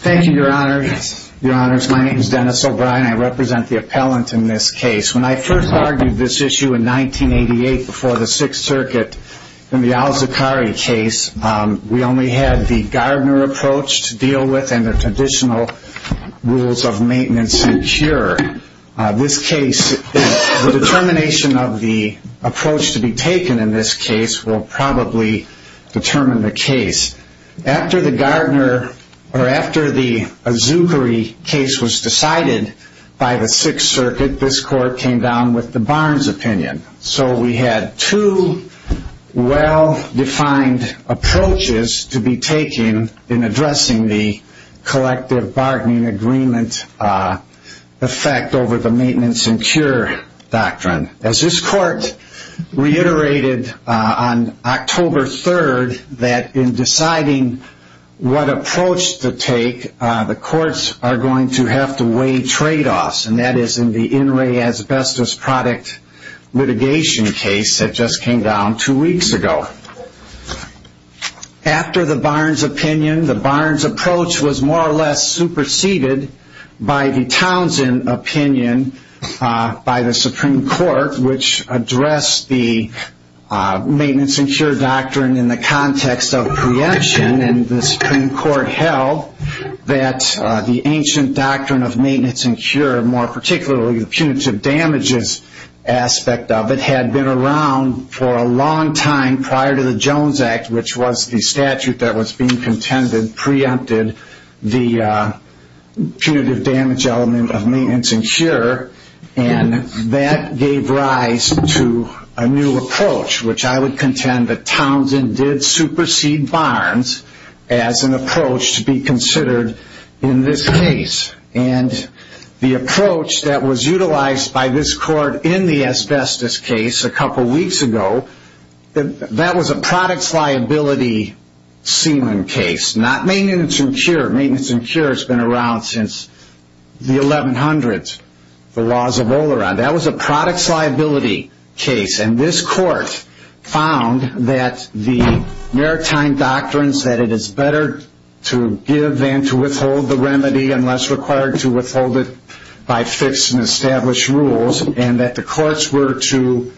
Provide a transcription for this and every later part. Thank you, your honors. My name is Dennis O'Brien. I represent the appellant in this case. When I first argued this issue in 1988 before the Sixth Circuit in the Al-Zaqqari case, we only had the Gardner approach to deal with and the traditional rules of maintenance and cure. The determination of the approach to be taken in this case will probably determine the case. After the Al-Zaqqari case was decided by the Sixth Circuit, this court came down with the Barnes opinion. So we had two well-defined approaches to be taken in addressing the collective bargaining agreement. As this court reiterated on October 3rd, that in deciding what approach to take, the courts are going to have to weigh trade-offs. And that is in the in-ray asbestos product litigation case that just came down two weeks ago. After the Barnes opinion, the Barnes approach was more or less superseded by the Townsend opinion by the Supreme Court, which addressed the maintenance and cure doctrine in the context of preemption. And the Supreme Court held that the ancient doctrine of maintenance and cure, more particularly the punitive damages aspect of it, had been around for a long time prior to the Jones Act, which was the statute that was being contended preempted the punitive damage element of maintenance and cure. And that gave rise to a new approach, which I would contend that Townsend did supersede Barnes as an approach to be considered in this case. And the approach that was utilized by this court in the asbestos case a couple weeks ago, that was a products liability ceiling case, not maintenance and cure. Maintenance and cure has been around since the 1100s, the laws of Oleron. That was a products liability case. And this court found that the maritime doctrines that it is better to give than to withhold the remedy unless required to withhold it by fixed and established rules, and that the courts were to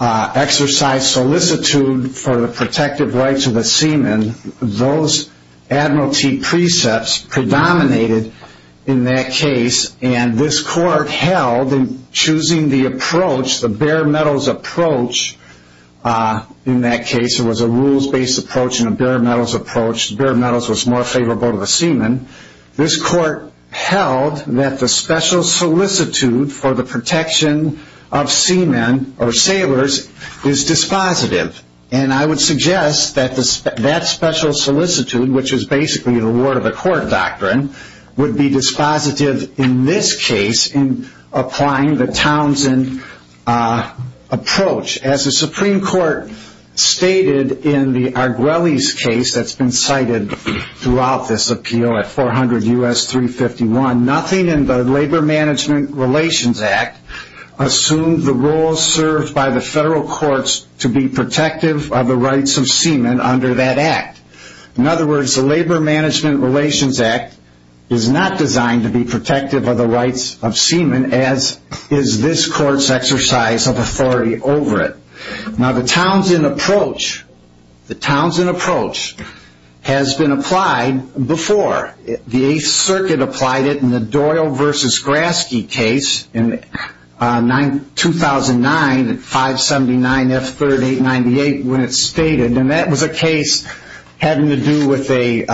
exercise solicitude for the protective rights of the seaman. And those admiralty precepts predominated in that case. And this court held in choosing the approach, the bare metals approach, in that case it was a rules-based approach and a bare metals approach. The bare metals was more favorable to the seaman. This court held that the special solicitude for the protection of seaman or sailors is dispositive. And I would suggest that that special solicitude, which is basically the word of the court doctrine, would be dispositive in this case in applying the Townsend approach. As the Supreme Court stated in the Arguelles case that's been cited throughout this appeal at 400 U.S. 351, nothing in the Labor Management Relations Act assumed the roles served by the federal courts to be protective of the rights of seaman under that act. In other words, the Labor Management Relations Act is not designed to be protective of the rights of seaman as is this court's exercise of authority over it. Now the Townsend approach, the Townsend approach has been applied before. The Eighth Circuit applied it in the Doyle v. Graske case in 2009 at 579 F. 3898 when it's stated. And that was a case having to do with a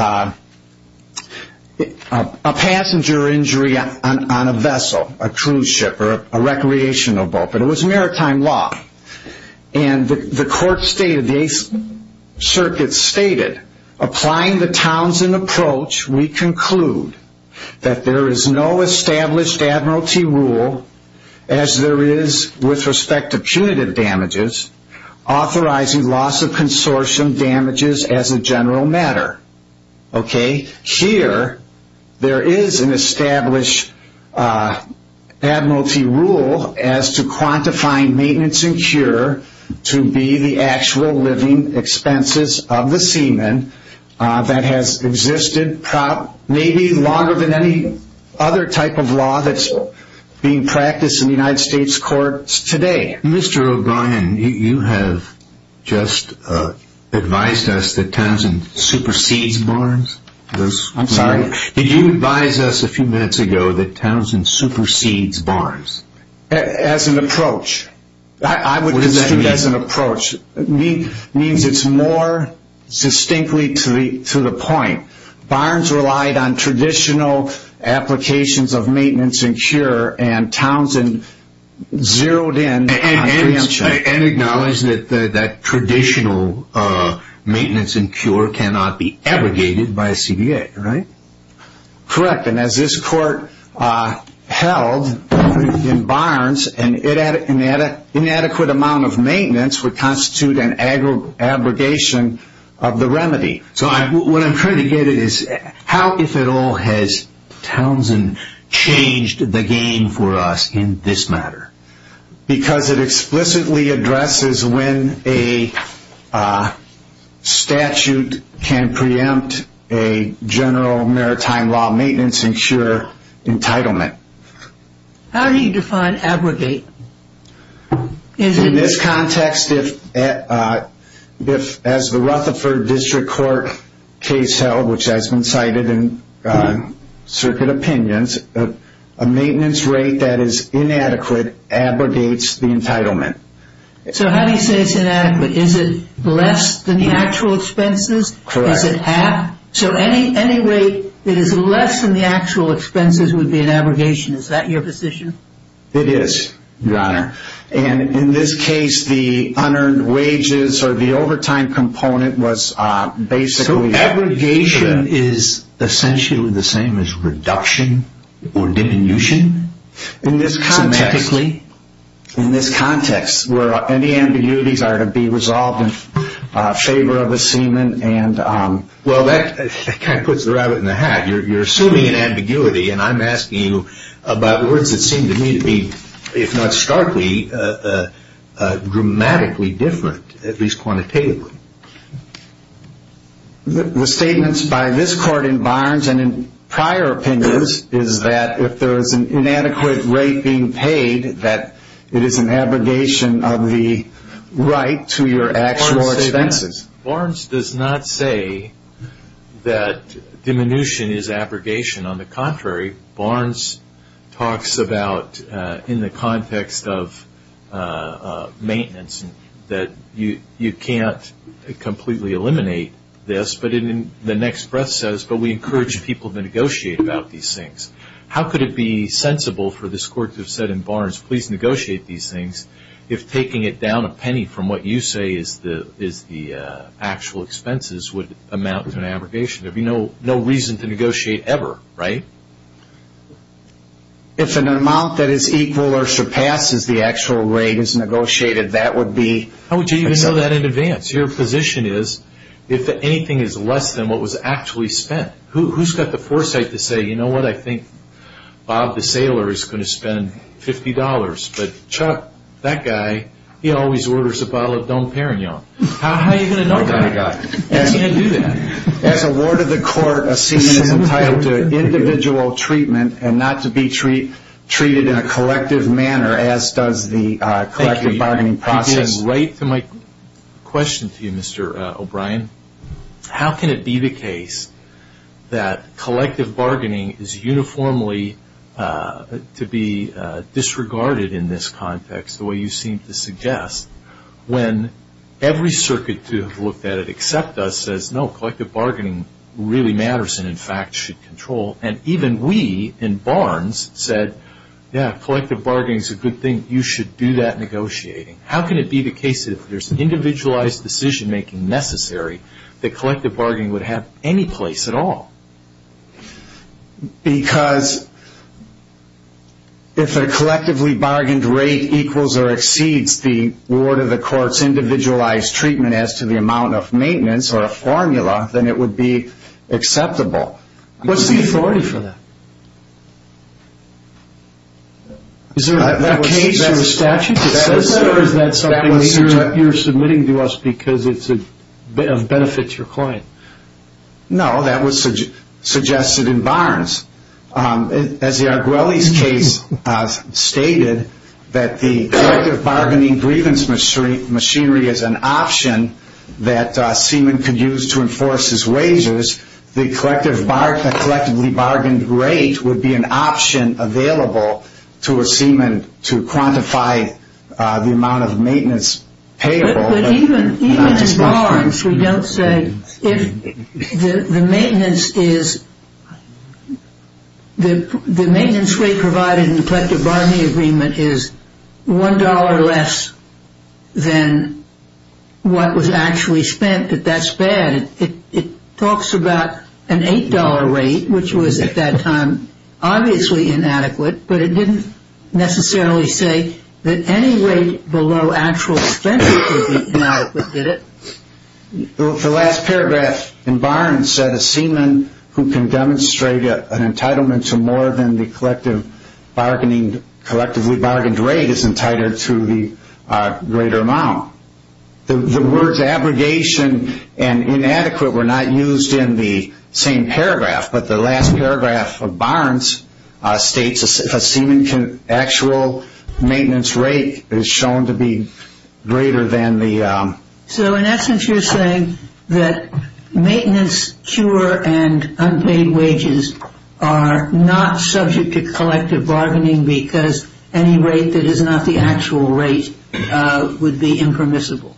passenger injury on a vessel, a cruise ship, or a recreational boat. But it was maritime law. And the court stated, the Eighth Circuit stated, applying the Townsend approach, we conclude that there is no established admiralty rule as there is with respect to punitive damages authorizing loss of consortium damages as a general matter. Okay? Here, there is an established admiralty rule as to quantifying maintenance and cure to be the actual living expenses of the seaman that has existed maybe longer than any other type of law that's being practiced in the United States courts today. Mr. O'Brien, you have just advised us that Townsend supersedes Barnes. Did you advise us a few minutes ago that Townsend supersedes Barnes? As an approach. I would consider it as an approach. It means it's more distinctly to the point. Barnes relied on traditional applications of maintenance and cure and Townsend zeroed in on preemption. And acknowledged that traditional maintenance and cure cannot be abrogated by a CBA, right? Correct. And as this court held in Barnes, an inadequate amount of maintenance would constitute an abrogation of the remedy. So what I'm trying to get at is how, if at all, has Townsend changed the game for us in this matter? Because it explicitly addresses when a statute can preempt a general maritime law maintenance and cure entitlement. How do you define abrogate? In this context, as the Rutherford District Court case held, which has been cited in circuit opinions, a maintenance rate that is inadequate abrogates the entitlement. So how do you say it's inadequate? Is it less than the actual expenses? Correct. So any rate that is less than the actual expenses would be an abrogation. Is that your position? It is, Your Honor. And in this case, the unearned wages or the overtime component was basically... So abrogation is essentially the same as reduction or diminution? In this context... Semantically? In this context, where any ambiguities are to be resolved in favor of the seaman and... Well, that kind of puts the rabbit in the hat. You're assuming an ambiguity, and I'm asking you about words that seem to me to be, if not starkly, dramatically different, at least quantitatively. The statements by this Court in Barnes and in prior opinions is that if there is an inadequate rate being paid, that it is an abrogation of the right to your actual expenses. Barnes does not say that diminution is abrogation. On the contrary, Barnes talks about, in the context of maintenance, that you can't completely eliminate this. But the next breath says, but we encourage people to negotiate about these things. How could it be sensible for this Court to have said in Barnes, please negotiate these things, if taking it down a penny from what you say is the actual expenses would amount to an abrogation? There would be no reason to negotiate ever, right? If an amount that is equal or surpasses the actual rate is negotiated, that would be... How would you even know that in advance? Your position is, if anything is less than what was actually spent. Who's got the foresight to say, you know what, I think Bob the sailor is going to spend $50, but Chuck, that guy, he always orders a bottle of Dom Perignon. How are you going to know that? You can't do that. As a ward of the Court, a seaman is entitled to individual treatment and not to be treated in a collective manner, as does the collective bargaining process. I can write to my question to you, Mr. O'Brien. How can it be the case that collective bargaining is uniformly to be disregarded in this context, the way you seem to suggest, when every circuit to have looked at it except us says, no, collective bargaining really matters and in fact should control. And even we in Barnes said, yeah, collective bargaining is a good thing, you should do that negotiating. How can it be the case that if there's individualized decision-making necessary, that collective bargaining would have any place at all? Because if a collectively bargained rate equals or exceeds the ward of the Court's individualized treatment as to the amount of maintenance or a formula, then it would be acceptable. What's the authority for that? Is there a case or a statute that says that or is that something you're submitting to us because it benefits your client? No, that was suggested in Barnes. As the Arguelles case stated, that the collective bargaining grievance machinery is an option that a seaman could use to enforce his wages, the collectively bargained rate would be an option available to a seaman to quantify the amount of maintenance payable. But even in Barnes, we don't say if the maintenance rate provided in the collective bargaining agreement is $1 less than what was actually spent, that that's bad. It talks about an $8 rate, which was at that time obviously inadequate, but it didn't necessarily say that any rate below actual expenses would be inadequate, did it? The last paragraph in Barnes said a seaman who can demonstrate an entitlement to more than the collectively bargained rate is entitled to the greater amount. The words abrogation and inadequate were not used in the same paragraph, but the last paragraph of Barnes states if a seaman's actual maintenance rate is shown to be greater than the... So in essence you're saying that maintenance, cure, and unpaid wages are not subject to collective bargaining because any rate that is not the actual rate would be impermissible.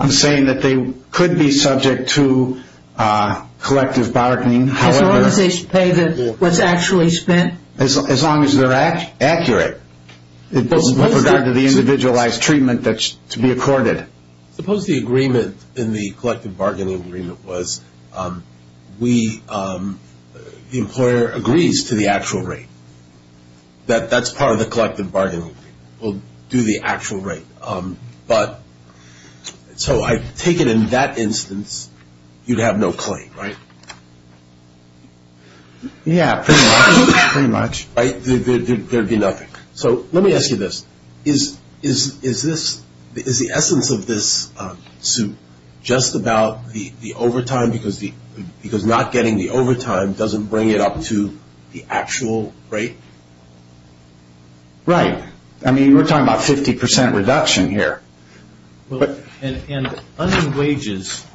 I'm saying that they could be subject to collective bargaining, however... As long as they pay what's actually spent? As long as they're accurate with regard to the individualized treatment that's to be accorded. Suppose the agreement in the collective bargaining agreement was the employer agrees to the actual rate. That that's part of the collective bargaining agreement. We'll do the actual rate. So I take it in that instance you'd have no claim, right? Yeah, pretty much. There'd be nothing. So let me ask you this. Is the essence of this suit just about the overtime because not getting the overtime doesn't bring it up to the actual rate? Right. I mean, we're talking about 50% reduction here. And unpaid wages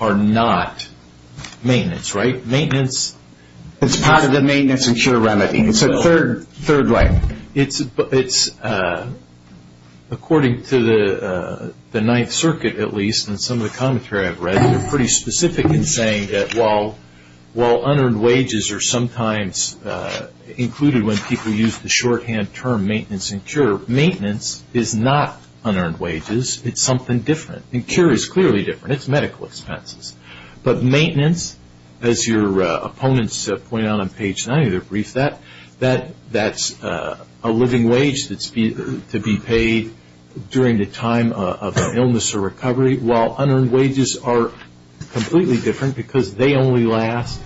are not maintenance, right? It's part of the maintenance and cure remedy. It's a third rate. It's according to the Ninth Circuit, at least, and some of the commentary I've read, they're pretty specific in saying that while unearned wages are sometimes included when people use the shorthand term maintenance and cure, maintenance is not unearned wages. It's something different. And cure is clearly different. It's medical expenses. But maintenance, as your opponents point out on page 9, I'm going to brief that, that's a living wage that's to be paid during the time of illness or recovery, while unearned wages are completely different because they only last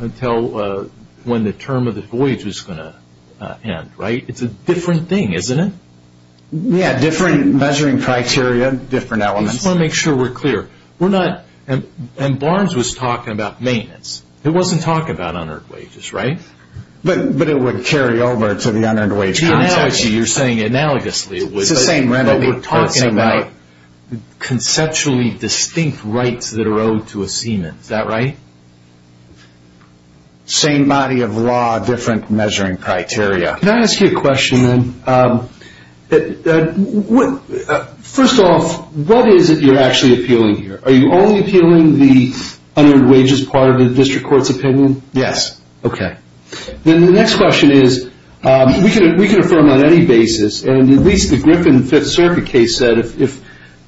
until when the term of the voyage is going to end, right? It's a different thing, isn't it? Yeah, different measuring criteria, different elements. I just want to make sure we're clear. And Barnes was talking about maintenance. It wasn't talking about unearned wages, right? But it would carry over to the unearned wage context. You're saying analogously. It's the same remedy. But we're talking about conceptually distinct rights that are owed to a seaman. Is that right? Same body of law, different measuring criteria. Can I ask you a question, then? First off, what is it you're actually appealing here? Are you only appealing the unearned wages part of the district court's opinion? Yes. Okay. Then the next question is we can affirm on any basis, and at least the Griffin Fifth Circuit case said if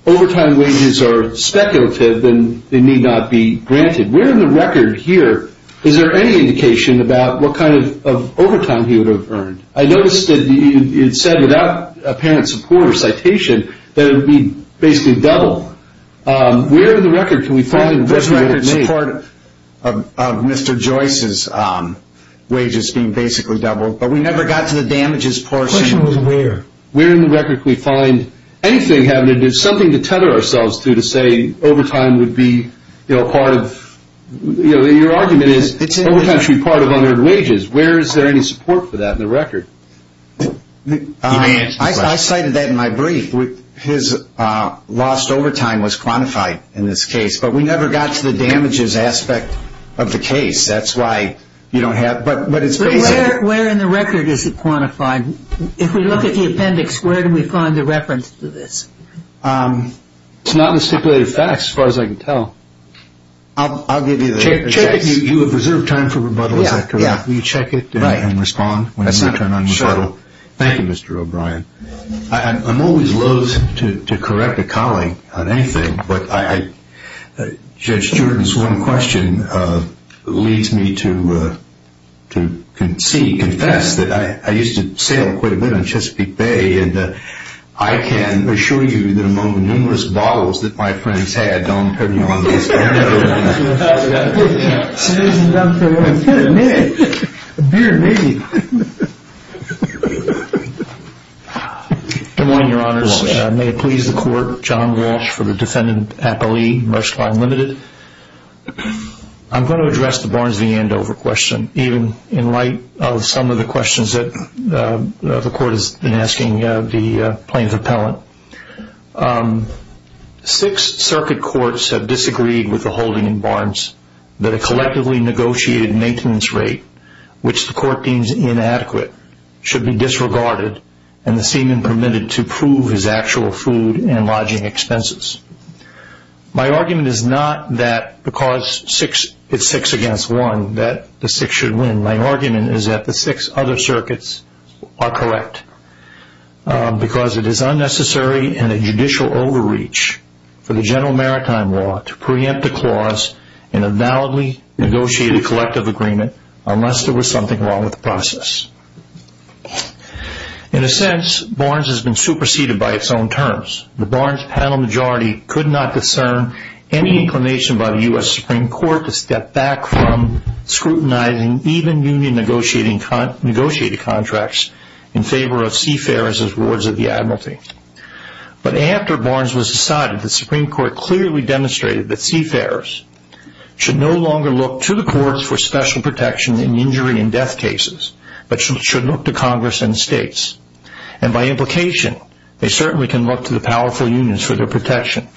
overtime wages are speculative, then they need not be granted. Where in the record here is there any indication about what kind of overtime he would have earned? I noticed that it said without apparent support or citation that it would be basically double. Where in the record can we find what he would have made? Those records are part of Mr. Joyce's wages being basically double, but we never got to the damages portion. The question was where. Where in the record can we find anything having to do, something to tether ourselves to to say overtime would be part of, your argument is overtime should be part of unearned wages. Where is there any support for that in the record? I cited that in my brief. His lost overtime was quantified in this case, but we never got to the damages aspect of the case. That's why you don't have, but it's basically. Where in the record is it quantified? If we look at the appendix, where can we find the reference to this? It's not in the stipulated facts as far as I can tell. I'll give you the reference. You have reserved time for rebuttal, is that correct? Will you check it and respond when it's your turn on rebuttal? Thank you, Mr. O'Brien. I'm always loathe to correct a colleague on anything, but Judge Steward's one question leads me to see, confess that I used to sail quite a bit on Chesapeake Bay, and I can assure you that among the numerous bottles that my friends had, I don't have any on me. It's been a minute. A beer maybe. Good morning, Your Honors. May it please the Court. John Walsh for the Defendant Appellee, Merskline Limited. I'm going to address the Barnes v. Andover question, even in light of some of the questions that the Court has been asking the plaintiff appellant. Six circuit courts have disagreed with the holding in Barnes that a collectively negotiated maintenance rate, which the Court deems inadequate, should be disregarded and the seaman permitted to prove his actual food and lodging expenses. My argument is not that because it's six against one that the six should win. My argument is that the six other circuits are correct because it is unnecessary and a judicial overreach for the general maritime law to preempt a clause in a validly negotiated collective agreement unless there was something wrong with the process. In a sense, Barnes has been superseded by its own terms. The Barnes panel majority could not discern any inclination by the U.S. Supreme Court to step back from scrutinizing even union negotiated contracts in favor of seafarers as wards of the admiralty. But after Barnes was decided, the Supreme Court clearly demonstrated that seafarers should no longer look to the courts for special protection in injury and death cases, but should look to Congress and states. And by implication, they certainly can look to the powerful unions for their protection.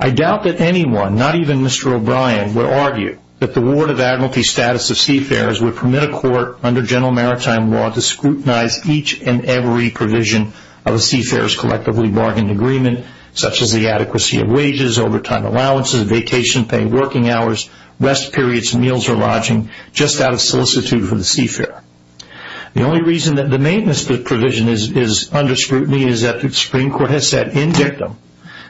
I doubt that anyone, not even Mr. O'Brien, would argue that the ward of admiralty status of seafarers would permit a court under general maritime law to scrutinize each and every provision of a seafarer's collectively bargained agreement, such as the adequacy of wages, overtime allowances, vacation pay, working hours, rest periods, meals or lodging, just out of solicitude for the seafarer. The only reason that the maintenance provision is under scrutiny is that the Supreme Court has said in dictum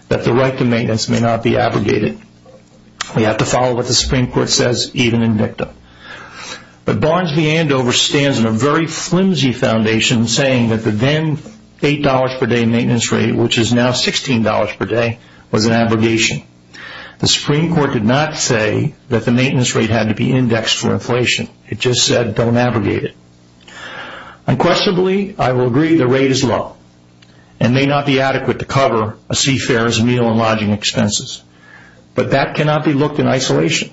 that the right to maintenance may not be abrogated. We have to follow what the Supreme Court says, even in dictum. But Barnes v. Andover stands on a very flimsy foundation saying that the then $8 per day maintenance rate, which is now $16 per day, was an abrogation. The Supreme Court did not say that the maintenance rate had to be indexed for inflation. It just said don't abrogate it. Unquestionably, I will agree the rate is low and may not be adequate to cover a seafarer's meal and lodging expenses. But that cannot be looked in isolation.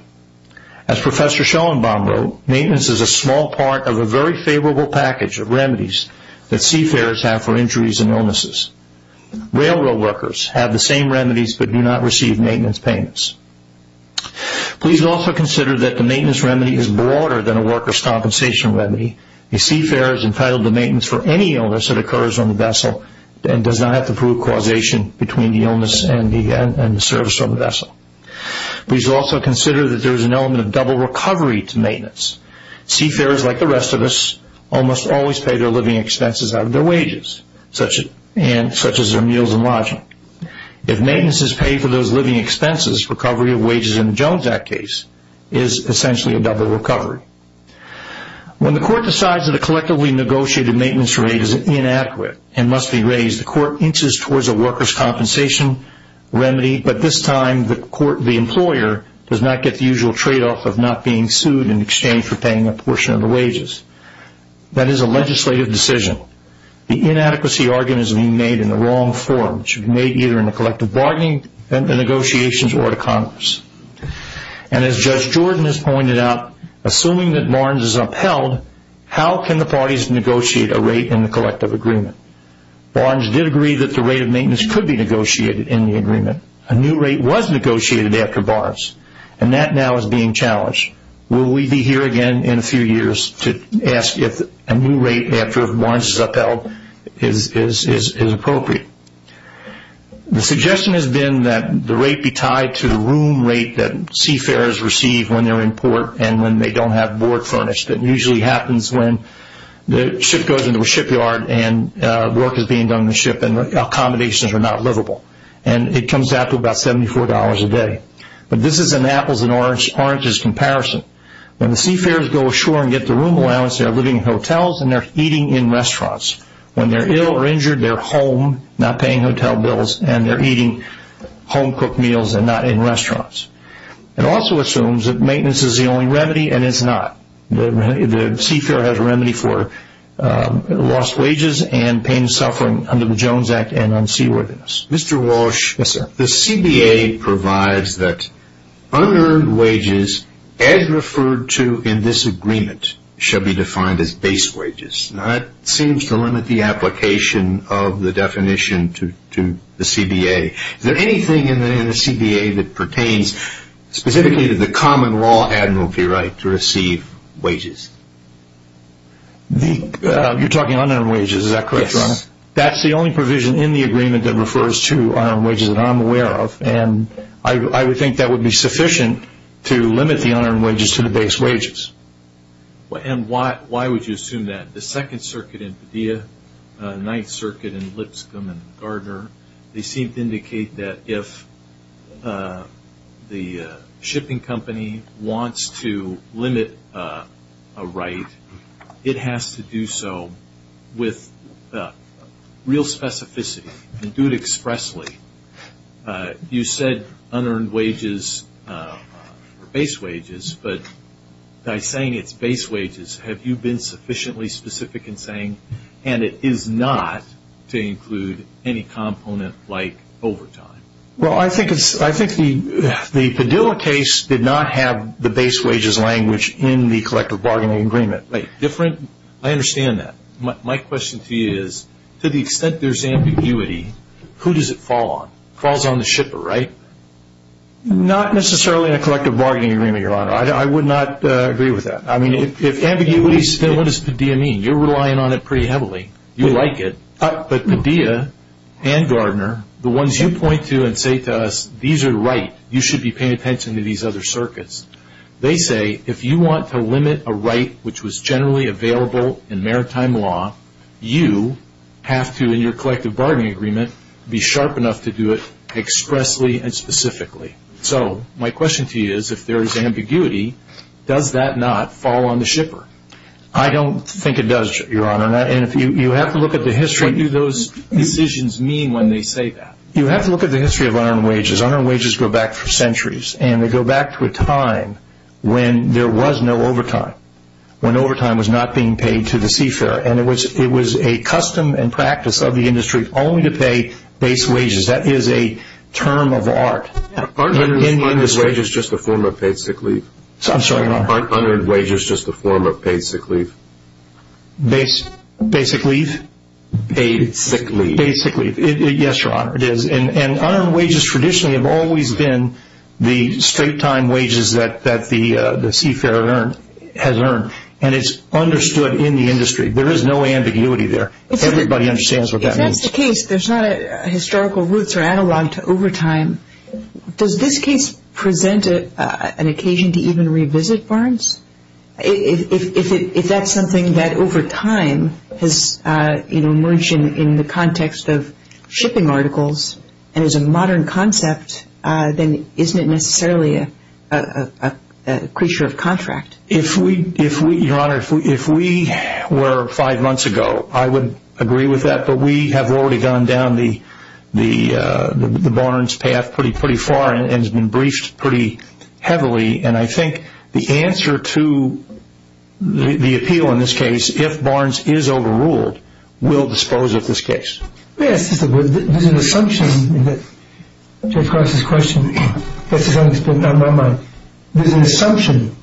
As Professor Schellenbaum wrote, maintenance is a small part of a very favorable package of remedies that seafarers have for injuries and illnesses. Railroad workers have the same remedies but do not receive maintenance payments. Please also consider that the maintenance remedy is broader than a worker's compensation remedy. A seafarer is entitled to maintenance for any illness that occurs on the vessel and does not have to prove causation between the illness and the service on the vessel. Please also consider that there is an element of double recovery to maintenance. Seafarers, like the rest of us, almost always pay their living expenses out of their wages, such as their meals and lodging. If maintenance is paid for those living expenses, recovery of wages in the Jones Act case is essentially a double recovery. When the Court decides that a collectively negotiated maintenance rate is inadequate and must be raised, the Court inches towards a worker's compensation remedy, but this time the employer does not get the usual tradeoff of not being sued in exchange for paying a portion of the wages. That is a legislative decision. The inadequacy argument is being made in the wrong form. It should be made either in the collective bargaining negotiations or to Congress. As Judge Jordan has pointed out, assuming that Barnes is upheld, how can the parties negotiate a rate in the collective agreement? Barnes did agree that the rate of maintenance could be negotiated in the agreement. A new rate was negotiated after Barnes, and that now is being challenged. Will we be here again in a few years to ask if a new rate after Barnes is upheld is appropriate? The suggestion has been that the rate be tied to the room rate that seafarers receive when they are in port and when they don't have board furnished. It usually happens when the ship goes into a shipyard and work is being done on the ship and the accommodations are not livable, and it comes out to about $74 a day. But this is an apples and oranges comparison. When the seafarers go ashore and get the room allowance, they are living in hotels and they are eating in restaurants. When they are ill or injured, they are home, not paying hotel bills, and they are eating home-cooked meals and not in restaurants. It also assumes that maintenance is the only remedy, and it is not. The seafarer has a remedy for lost wages and pain and suffering under the Jones Act and unseaworthiness. Mr. Walsh. Yes, sir. The CBA provides that unearned wages, as referred to in this agreement, shall be defined as base wages. That seems to limit the application of the definition to the CBA. Is there anything in the CBA that pertains specifically to the common law admiralty right to receive wages? You're talking unearned wages, is that correct, Your Honor? Yes. That's the only provision in the agreement that refers to unearned wages that I'm aware of, and I would think that would be sufficient to limit the unearned wages to the base wages. And why would you assume that? The Second Circuit in Padilla, the Ninth Circuit in Lipscomb and Gardner, they seem to indicate that if the shipping company wants to limit a right, it has to do so with real specificity and do it expressly. You said unearned wages are base wages, but by saying it's base wages, have you been sufficiently specific in saying, and it is not to include any component like overtime? Well, I think the Padilla case did not have the base wages language in the collective bargaining agreement. Different? I understand that. My question to you is, to the extent there's ambiguity, who does it fall on? It falls on the shipper, right? Not necessarily in a collective bargaining agreement, Your Honor. I would not agree with that. I mean, if ambiguity is still, what does Padilla mean? You're relying on it pretty heavily. You like it. But Padilla and Gardner, the ones you point to and say to us, these are right, you should be paying attention to these other circuits. They say if you want to limit a right which was generally available in maritime law, you have to, in your collective bargaining agreement, be sharp enough to do it expressly and specifically. So my question to you is, if there is ambiguity, does that not fall on the shipper? I don't think it does, Your Honor. And you have to look at the history. What do those decisions mean when they say that? You have to look at the history of unarmed wages. Unarmed wages go back for centuries, and they go back to a time when there was no overtime, when overtime was not being paid to the seafarer. And it was a custom and practice of the industry only to pay base wages. That is a term of art. Aren't unarmed wages just a form of paid sick leave? I'm sorry, Your Honor. Aren't unarmed wages just a form of paid sick leave? Basic leave? Paid sick leave. Paid sick leave. Yes, Your Honor, it is. And unarmed wages traditionally have always been the straight-time wages that the seafarer has earned, There is no ambiguity there. Everybody understands what that means. If that's the case, there's not a historical roots or analog to overtime. Does this case present an occasion to even revisit barns? If that's something that over time has emerged in the context of shipping articles and is a modern concept, then isn't it necessarily a creature of contract? Your Honor, if we were five months ago, I would agree with that. But we have already gone down the barns path pretty far and it's been briefed pretty heavily. And I think the answer to the appeal in this case, if barns is overruled, we'll dispose of this case. Let me ask you something. There's an assumption that Jeff Cross's question gets a little bit out of my mind. There's an assumption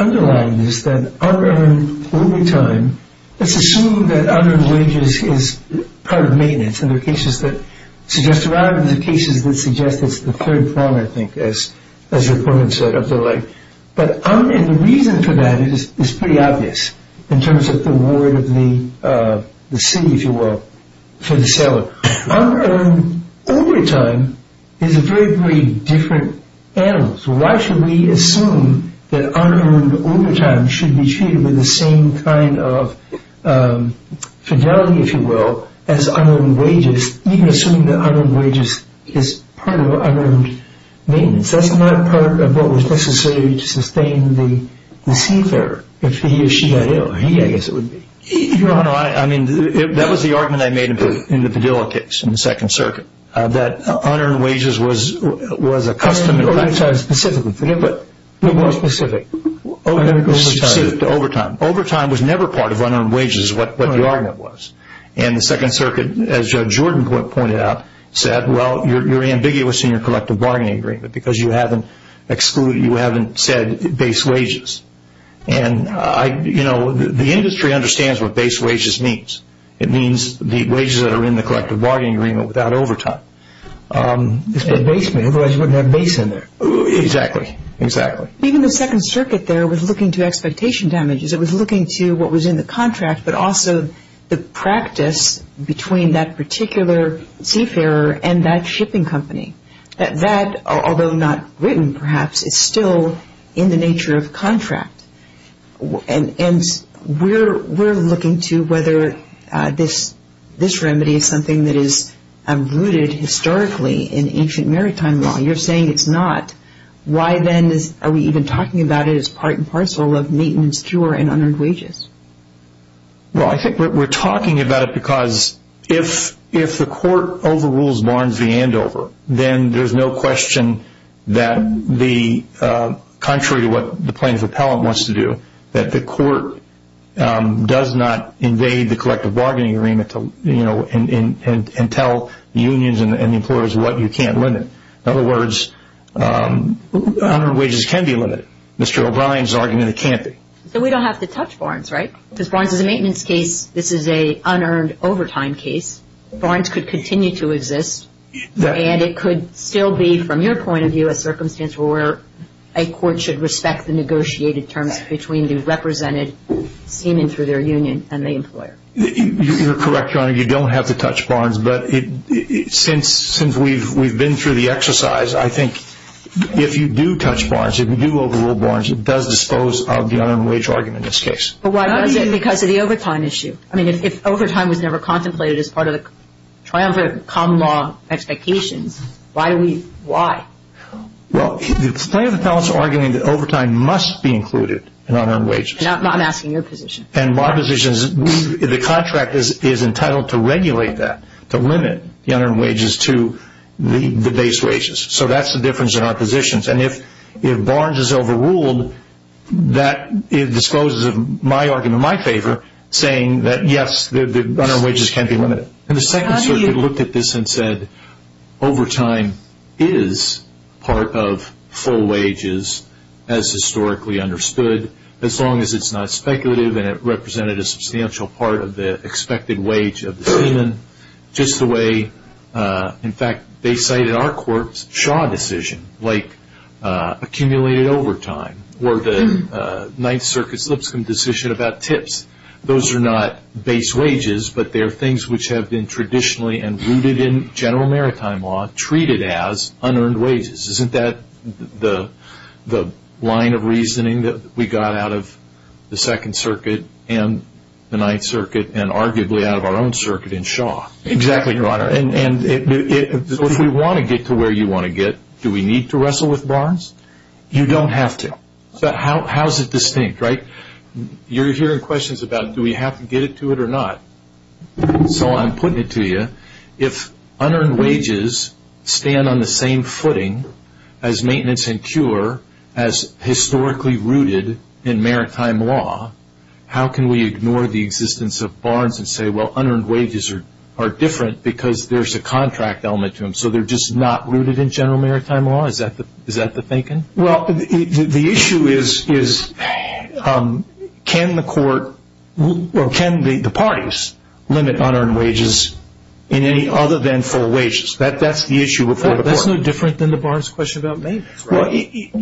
underlying this that unarmed overtime, let's assume that unarmed wages is part of maintenance. And there are cases that suggest, or rather there are cases that suggest it's the third form, I think, as you put it. But the reason for that is pretty obvious in terms of the ward of the city, if you will, for the seller. Unearned overtime is a very, very different animal. So why should we assume that unearned overtime should be treated with the same kind of fidelity, if you will, as unarmed wages, even assuming that unarmed wages is part of unarmed maintenance? That's not part of what was necessary to sustain the seafarer, if he or she got ill. He, I guess it would be. Your Honor, I mean, that was the argument I made in the Padilla case in the Second Circuit, that unearned wages was a custom in effect. Unarmed overtime specifically. More specific. Specific to overtime. Overtime was never part of unearned wages, is what the argument was. And the Second Circuit, as Judge Jordan pointed out, said, well, you're ambiguous in your collective bargaining agreement because you haven't said base wages. And, you know, the industry understands what base wages means. It means the wages that are in the collective bargaining agreement without overtime. It's not base, otherwise you wouldn't have base in there. Exactly. Exactly. Even the Second Circuit there was looking to expectation damages. It was looking to what was in the contract, but also the practice between that particular seafarer and that shipping company. That, although not written, perhaps, is still in the nature of contract. And we're looking to whether this remedy is something that is rooted historically in ancient maritime law. You're saying it's not. Why then are we even talking about it as part and parcel of maintenance, cure, and unearned wages? Well, I think we're talking about it because if the court overrules Barnes v. Andover, then there's no question that, contrary to what the plaintiff appellant wants to do, that the court does not invade the collective bargaining agreement and tell the unions and the employers what you can't limit. In other words, unearned wages can be limited. Mr. O'Brien's argument it can't be. So we don't have to touch Barnes, right? Because Barnes is a maintenance case. This is an unearned overtime case. Barnes could continue to exist. And it could still be, from your point of view, a circumstance where a court should respect the negotiated terms between the represented seaman through their union and the employer. You're correct, Your Honor. You don't have to touch Barnes. But since we've been through the exercise, I think if you do touch Barnes, if you do overrule Barnes, it does dispose of the unearned wage argument in this case. But why does it? Because of the overtime issue. I mean, if overtime was never contemplated as part of the triumvirate common law expectations, why? Well, the plaintiff appellant is arguing that overtime must be included in unearned wages. I'm asking your position. And my position is the contract is entitled to regulate that, to limit the unearned wages to the base wages. So that's the difference in our positions. And if Barnes is overruled, that disposes of my argument in my favor, saying that, yes, the unearned wages can be limited. And the Second Circuit looked at this and said, overtime is part of full wages as historically understood, as long as it's not speculative and it represented a substantial part of the expected wage of the seaman, just the way, in fact, they cited our court's Shaw decision, like accumulated overtime, or the Ninth Circuit's Lipscomb decision about tips. Those are not base wages, but they are things which have been traditionally and rooted in general maritime law treated as unearned wages. Isn't that the line of reasoning that we got out of the Second Circuit and the Ninth Circuit and arguably out of our own circuit in Shaw? Exactly, Your Honor. And if we want to get to where you want to get, do we need to wrestle with Barnes? You don't have to. But how is it distinct, right? You're hearing questions about do we have to get to it or not. So I'm putting it to you. If unearned wages stand on the same footing as maintenance and cure as historically rooted in maritime law, how can we ignore the existence of Barnes and say, well, unearned wages are different because there's a contract element to them, so they're just not rooted in general maritime law? Is that the thinking? Well, the issue is can the court or can the parties limit unearned wages in any other than full wages? That's the issue before the court. That's no different than the Barnes question about maintenance. Can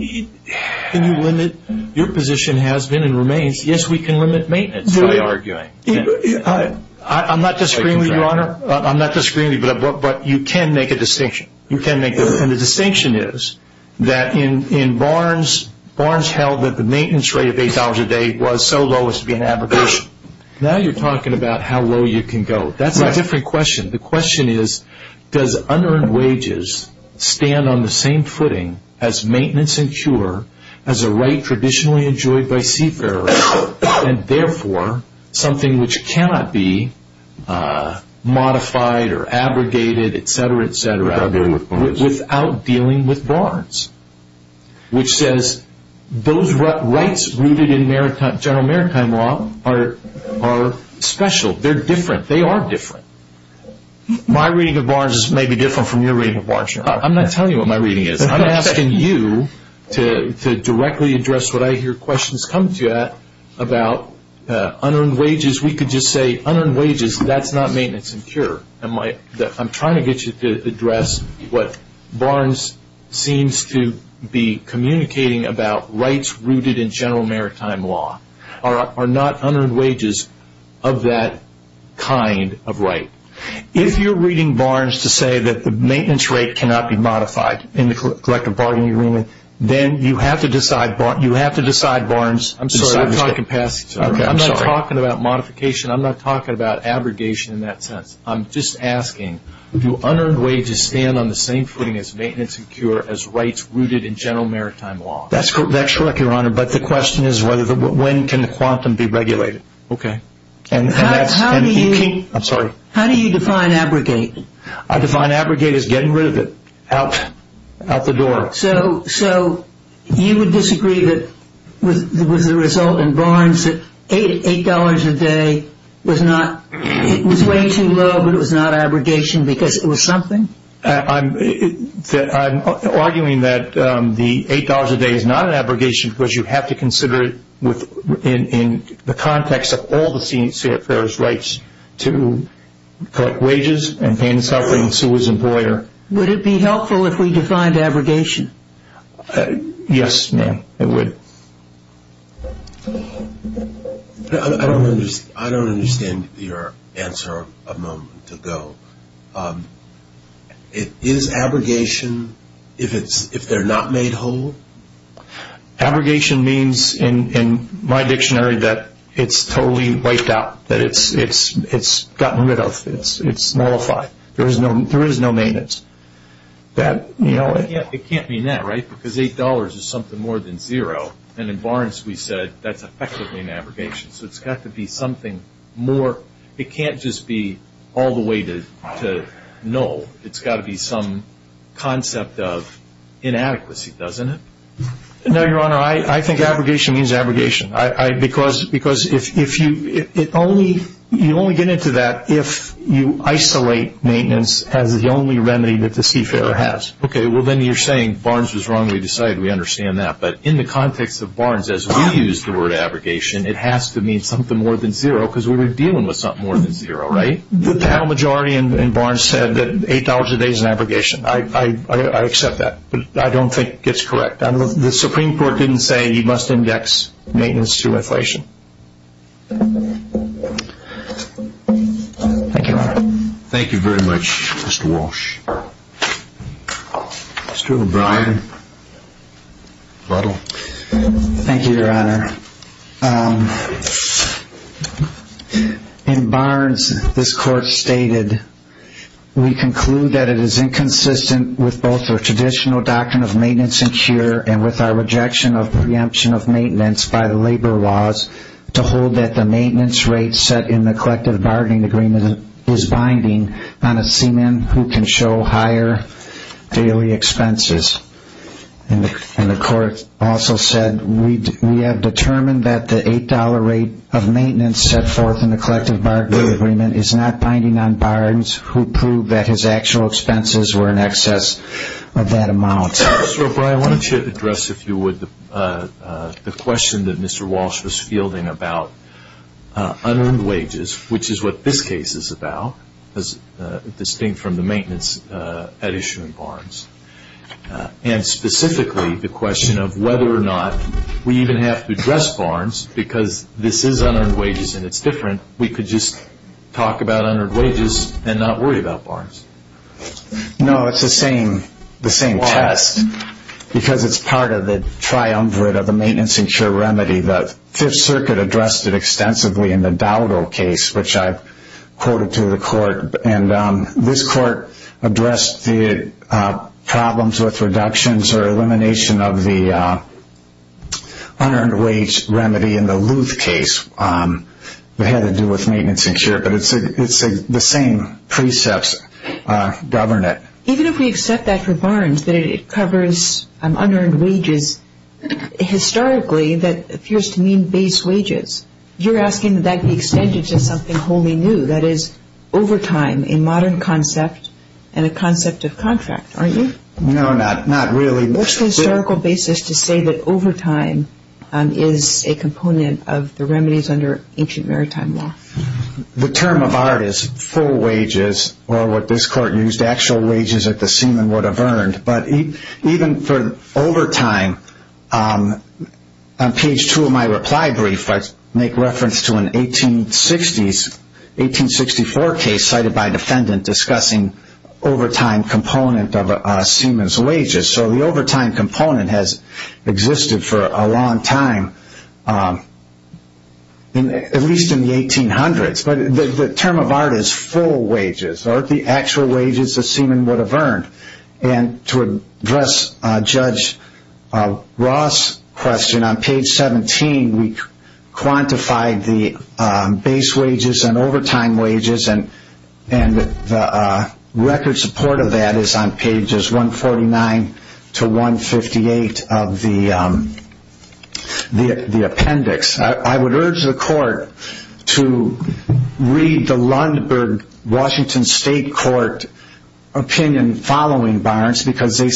you limit your position has been and remains? Yes, we can limit maintenance, I'm arguing. I'm not disagreeing with you, Your Honor. I'm not disagreeing with you, but you can make a distinction. You can make a distinction, and the distinction is that in Barnes, Barnes held that the maintenance rate of $8 a day was so low as to be an abrogation. Now you're talking about how low you can go. That's a different question. The question is does unearned wages stand on the same footing as maintenance and cure, as a right traditionally enjoyed by seafarers, and therefore something which cannot be modified or abrogated, et cetera, et cetera, without dealing with Barnes, which says those rights rooted in general maritime law are special. They're different. They are different. My reading of Barnes may be different from your reading of Barnes, Your Honor. I'm not telling you what my reading is. I'm asking you to directly address what I hear questions come to you at about unearned wages. We could just say unearned wages, that's not maintenance and cure. I'm trying to get you to address what Barnes seems to be communicating about rights rooted in general maritime law are not unearned wages of that kind of right. If you're reading Barnes to say that the maintenance rate cannot be modified in the collective bargaining agreement, then you have to decide Barnes. I'm sorry. I'm not talking about modification. I'm not talking about abrogation in that sense. I'm just asking do unearned wages stand on the same footing as maintenance That's correct, Your Honor. But the question is when can the quantum be regulated. Okay. I'm sorry. How do you define abrogate? I define abrogate as getting rid of it out the door. So you would disagree with the result in Barnes that $8 a day was way too low, but it was not abrogation because it was something? I'm arguing that the $8 a day is not an abrogation because you have to consider it in the context of all the CFR's rights to collect wages and pain and suffering and sue his employer. Would it be helpful if we defined abrogation? Yes, ma'am, it would. I don't understand your answer a moment ago. Is abrogation if they're not made whole? Abrogation means in my dictionary that it's totally wiped out, that it's gotten rid of, it's nullified. There is no maintenance. It can't mean that, right, because $8 is something more than zero, and in Barnes we said that's effectively an abrogation. So it's got to be something more. It can't just be all the way to null. It's got to be some concept of inadequacy, doesn't it? No, Your Honor, I think abrogation means abrogation. Because you only get into that if you isolate maintenance as the only remedy that the CFR has. Okay, well, then you're saying Barnes was wrong and we decided we understand that. But in the context of Barnes, as we use the word abrogation, it has to mean something more than zero because we were dealing with something more than zero, right? The town majority in Barnes said that $8 a day is an abrogation. I accept that, but I don't think it's correct. The Supreme Court didn't say you must index maintenance to inflation. Thank you, Your Honor. Thank you very much, Mr. Walsh. Mr. O'Brien. Thank you, Your Honor. In Barnes, this Court stated, We conclude that it is inconsistent with both the traditional doctrine of maintenance and cure and with our rejection of preemption of maintenance by the labor laws to hold that the maintenance rate set in the collective bargaining agreement is binding on a seaman who can show higher daily expenses. And the Court also said, We have determined that the $8 rate of maintenance set forth in the collective bargaining agreement is not binding on Barnes who proved that his actual expenses were in excess of that amount. Mr. O'Brien, I wanted to address, if you would, the question that Mr. Walsh was fielding about unearned wages, which is what this case is about, distinct from the maintenance at issue in Barnes, and specifically the question of whether or not we even have to address Barnes because this is unearned wages and it's different. We could just talk about unearned wages and not worry about Barnes. No, it's the same test because it's part of the triumvirate of the maintenance and cure remedy. The Fifth Circuit addressed it extensively in the Dowdell case, which I quoted to the Court. And this Court addressed the problems with reductions or elimination of the unearned wage remedy in the Luth case. It had to do with maintenance and cure, but it's the same precepts govern it. Even if we accept that for Barnes, that it covers unearned wages historically, that appears to mean base wages, you're asking that that be extended to something wholly new, that is, overtime, a modern concept and a concept of contract, aren't you? No, not really. What's the historical basis to say that overtime is a component of the remedies under ancient maritime law? The term of art is full wages, or what this Court used, actual wages that the seaman would have earned. But even for overtime, on page two of my reply brief, I make reference to an 1864 case cited by a defendant discussing overtime component of a seaman's wages. So the overtime component has existed for a long time, at least in the 1800s. But the term of art is full wages, or the actual wages a seaman would have earned. And to address Judge Ross' question, on page 17 we quantified the base wages and overtime wages, and the record support of that is on pages 149 to 158 of the appendix. I would urge the Court to read the Lundberg Washington State Court opinion following Barnes, because they,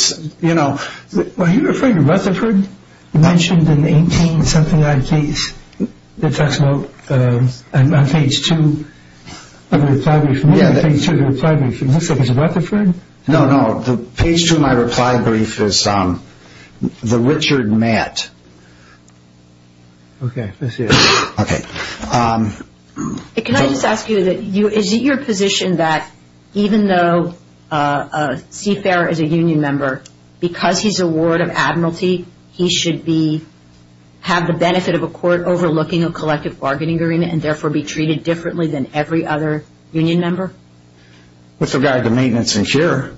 you know... Are you referring to Rutherford, mentioned in the 18-something-odd case, that talks about, on page two of the reply brief, it looks like it's Rutherford? No, no, page two of my reply brief is the Richard Matt. Okay. Can I just ask you, is it your position that even though Seafarer is a union member, because he's a ward of admiralty, he should have the benefit of a court overlooking a collective bargaining agreement and therefore be treated differently than every other union member? With regard to maintenance and share,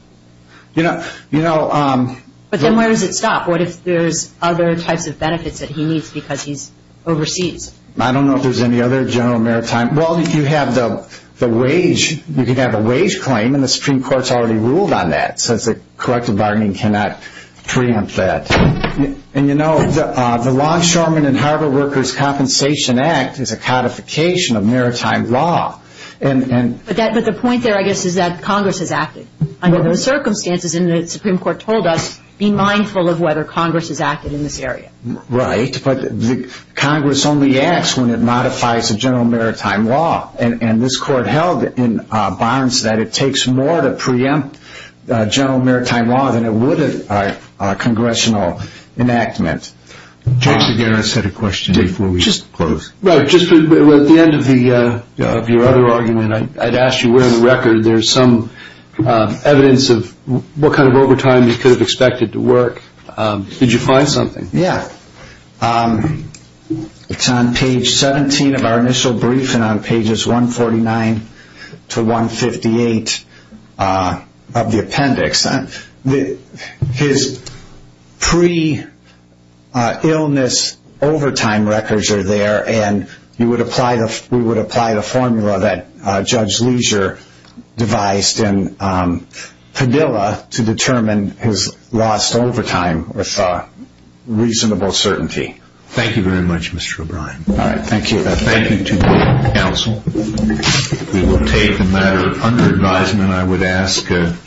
you know... But then where does it stop? What if there's other types of benefits that he needs because he's overseas? I don't know if there's any other general maritime... Well, if you have the wage, you can have a wage claim, and the Supreme Court's already ruled on that, so collective bargaining cannot preempt that. And, you know, the Longshoremen and Harbor Workers Compensation Act is a codification of maritime law. But the point there, I guess, is that Congress has acted under those circumstances, and the Supreme Court told us, be mindful of whether Congress has acted in this area. Right, but Congress only acts when it modifies the general maritime law, and this Court held in Barnes that it takes more to preempt general maritime law than it would a congressional enactment. James, again, I said a question before we close. Just at the end of your other argument, I'd ask you where in the record there's some evidence of what kind of overtime you could have expected to work. Did you find something? Yeah. It's on page 17 of our initial brief and on pages 149 to 158 of the appendix. His pre-illness overtime records are there, and we would apply the formula that Judge Leisure devised in Padilla to determine his lost overtime with reasonable certainty. Thank you very much, Mr. O'Brien. All right, thank you. Thank you to the counsel. We will take a matter under advisement, I would ask.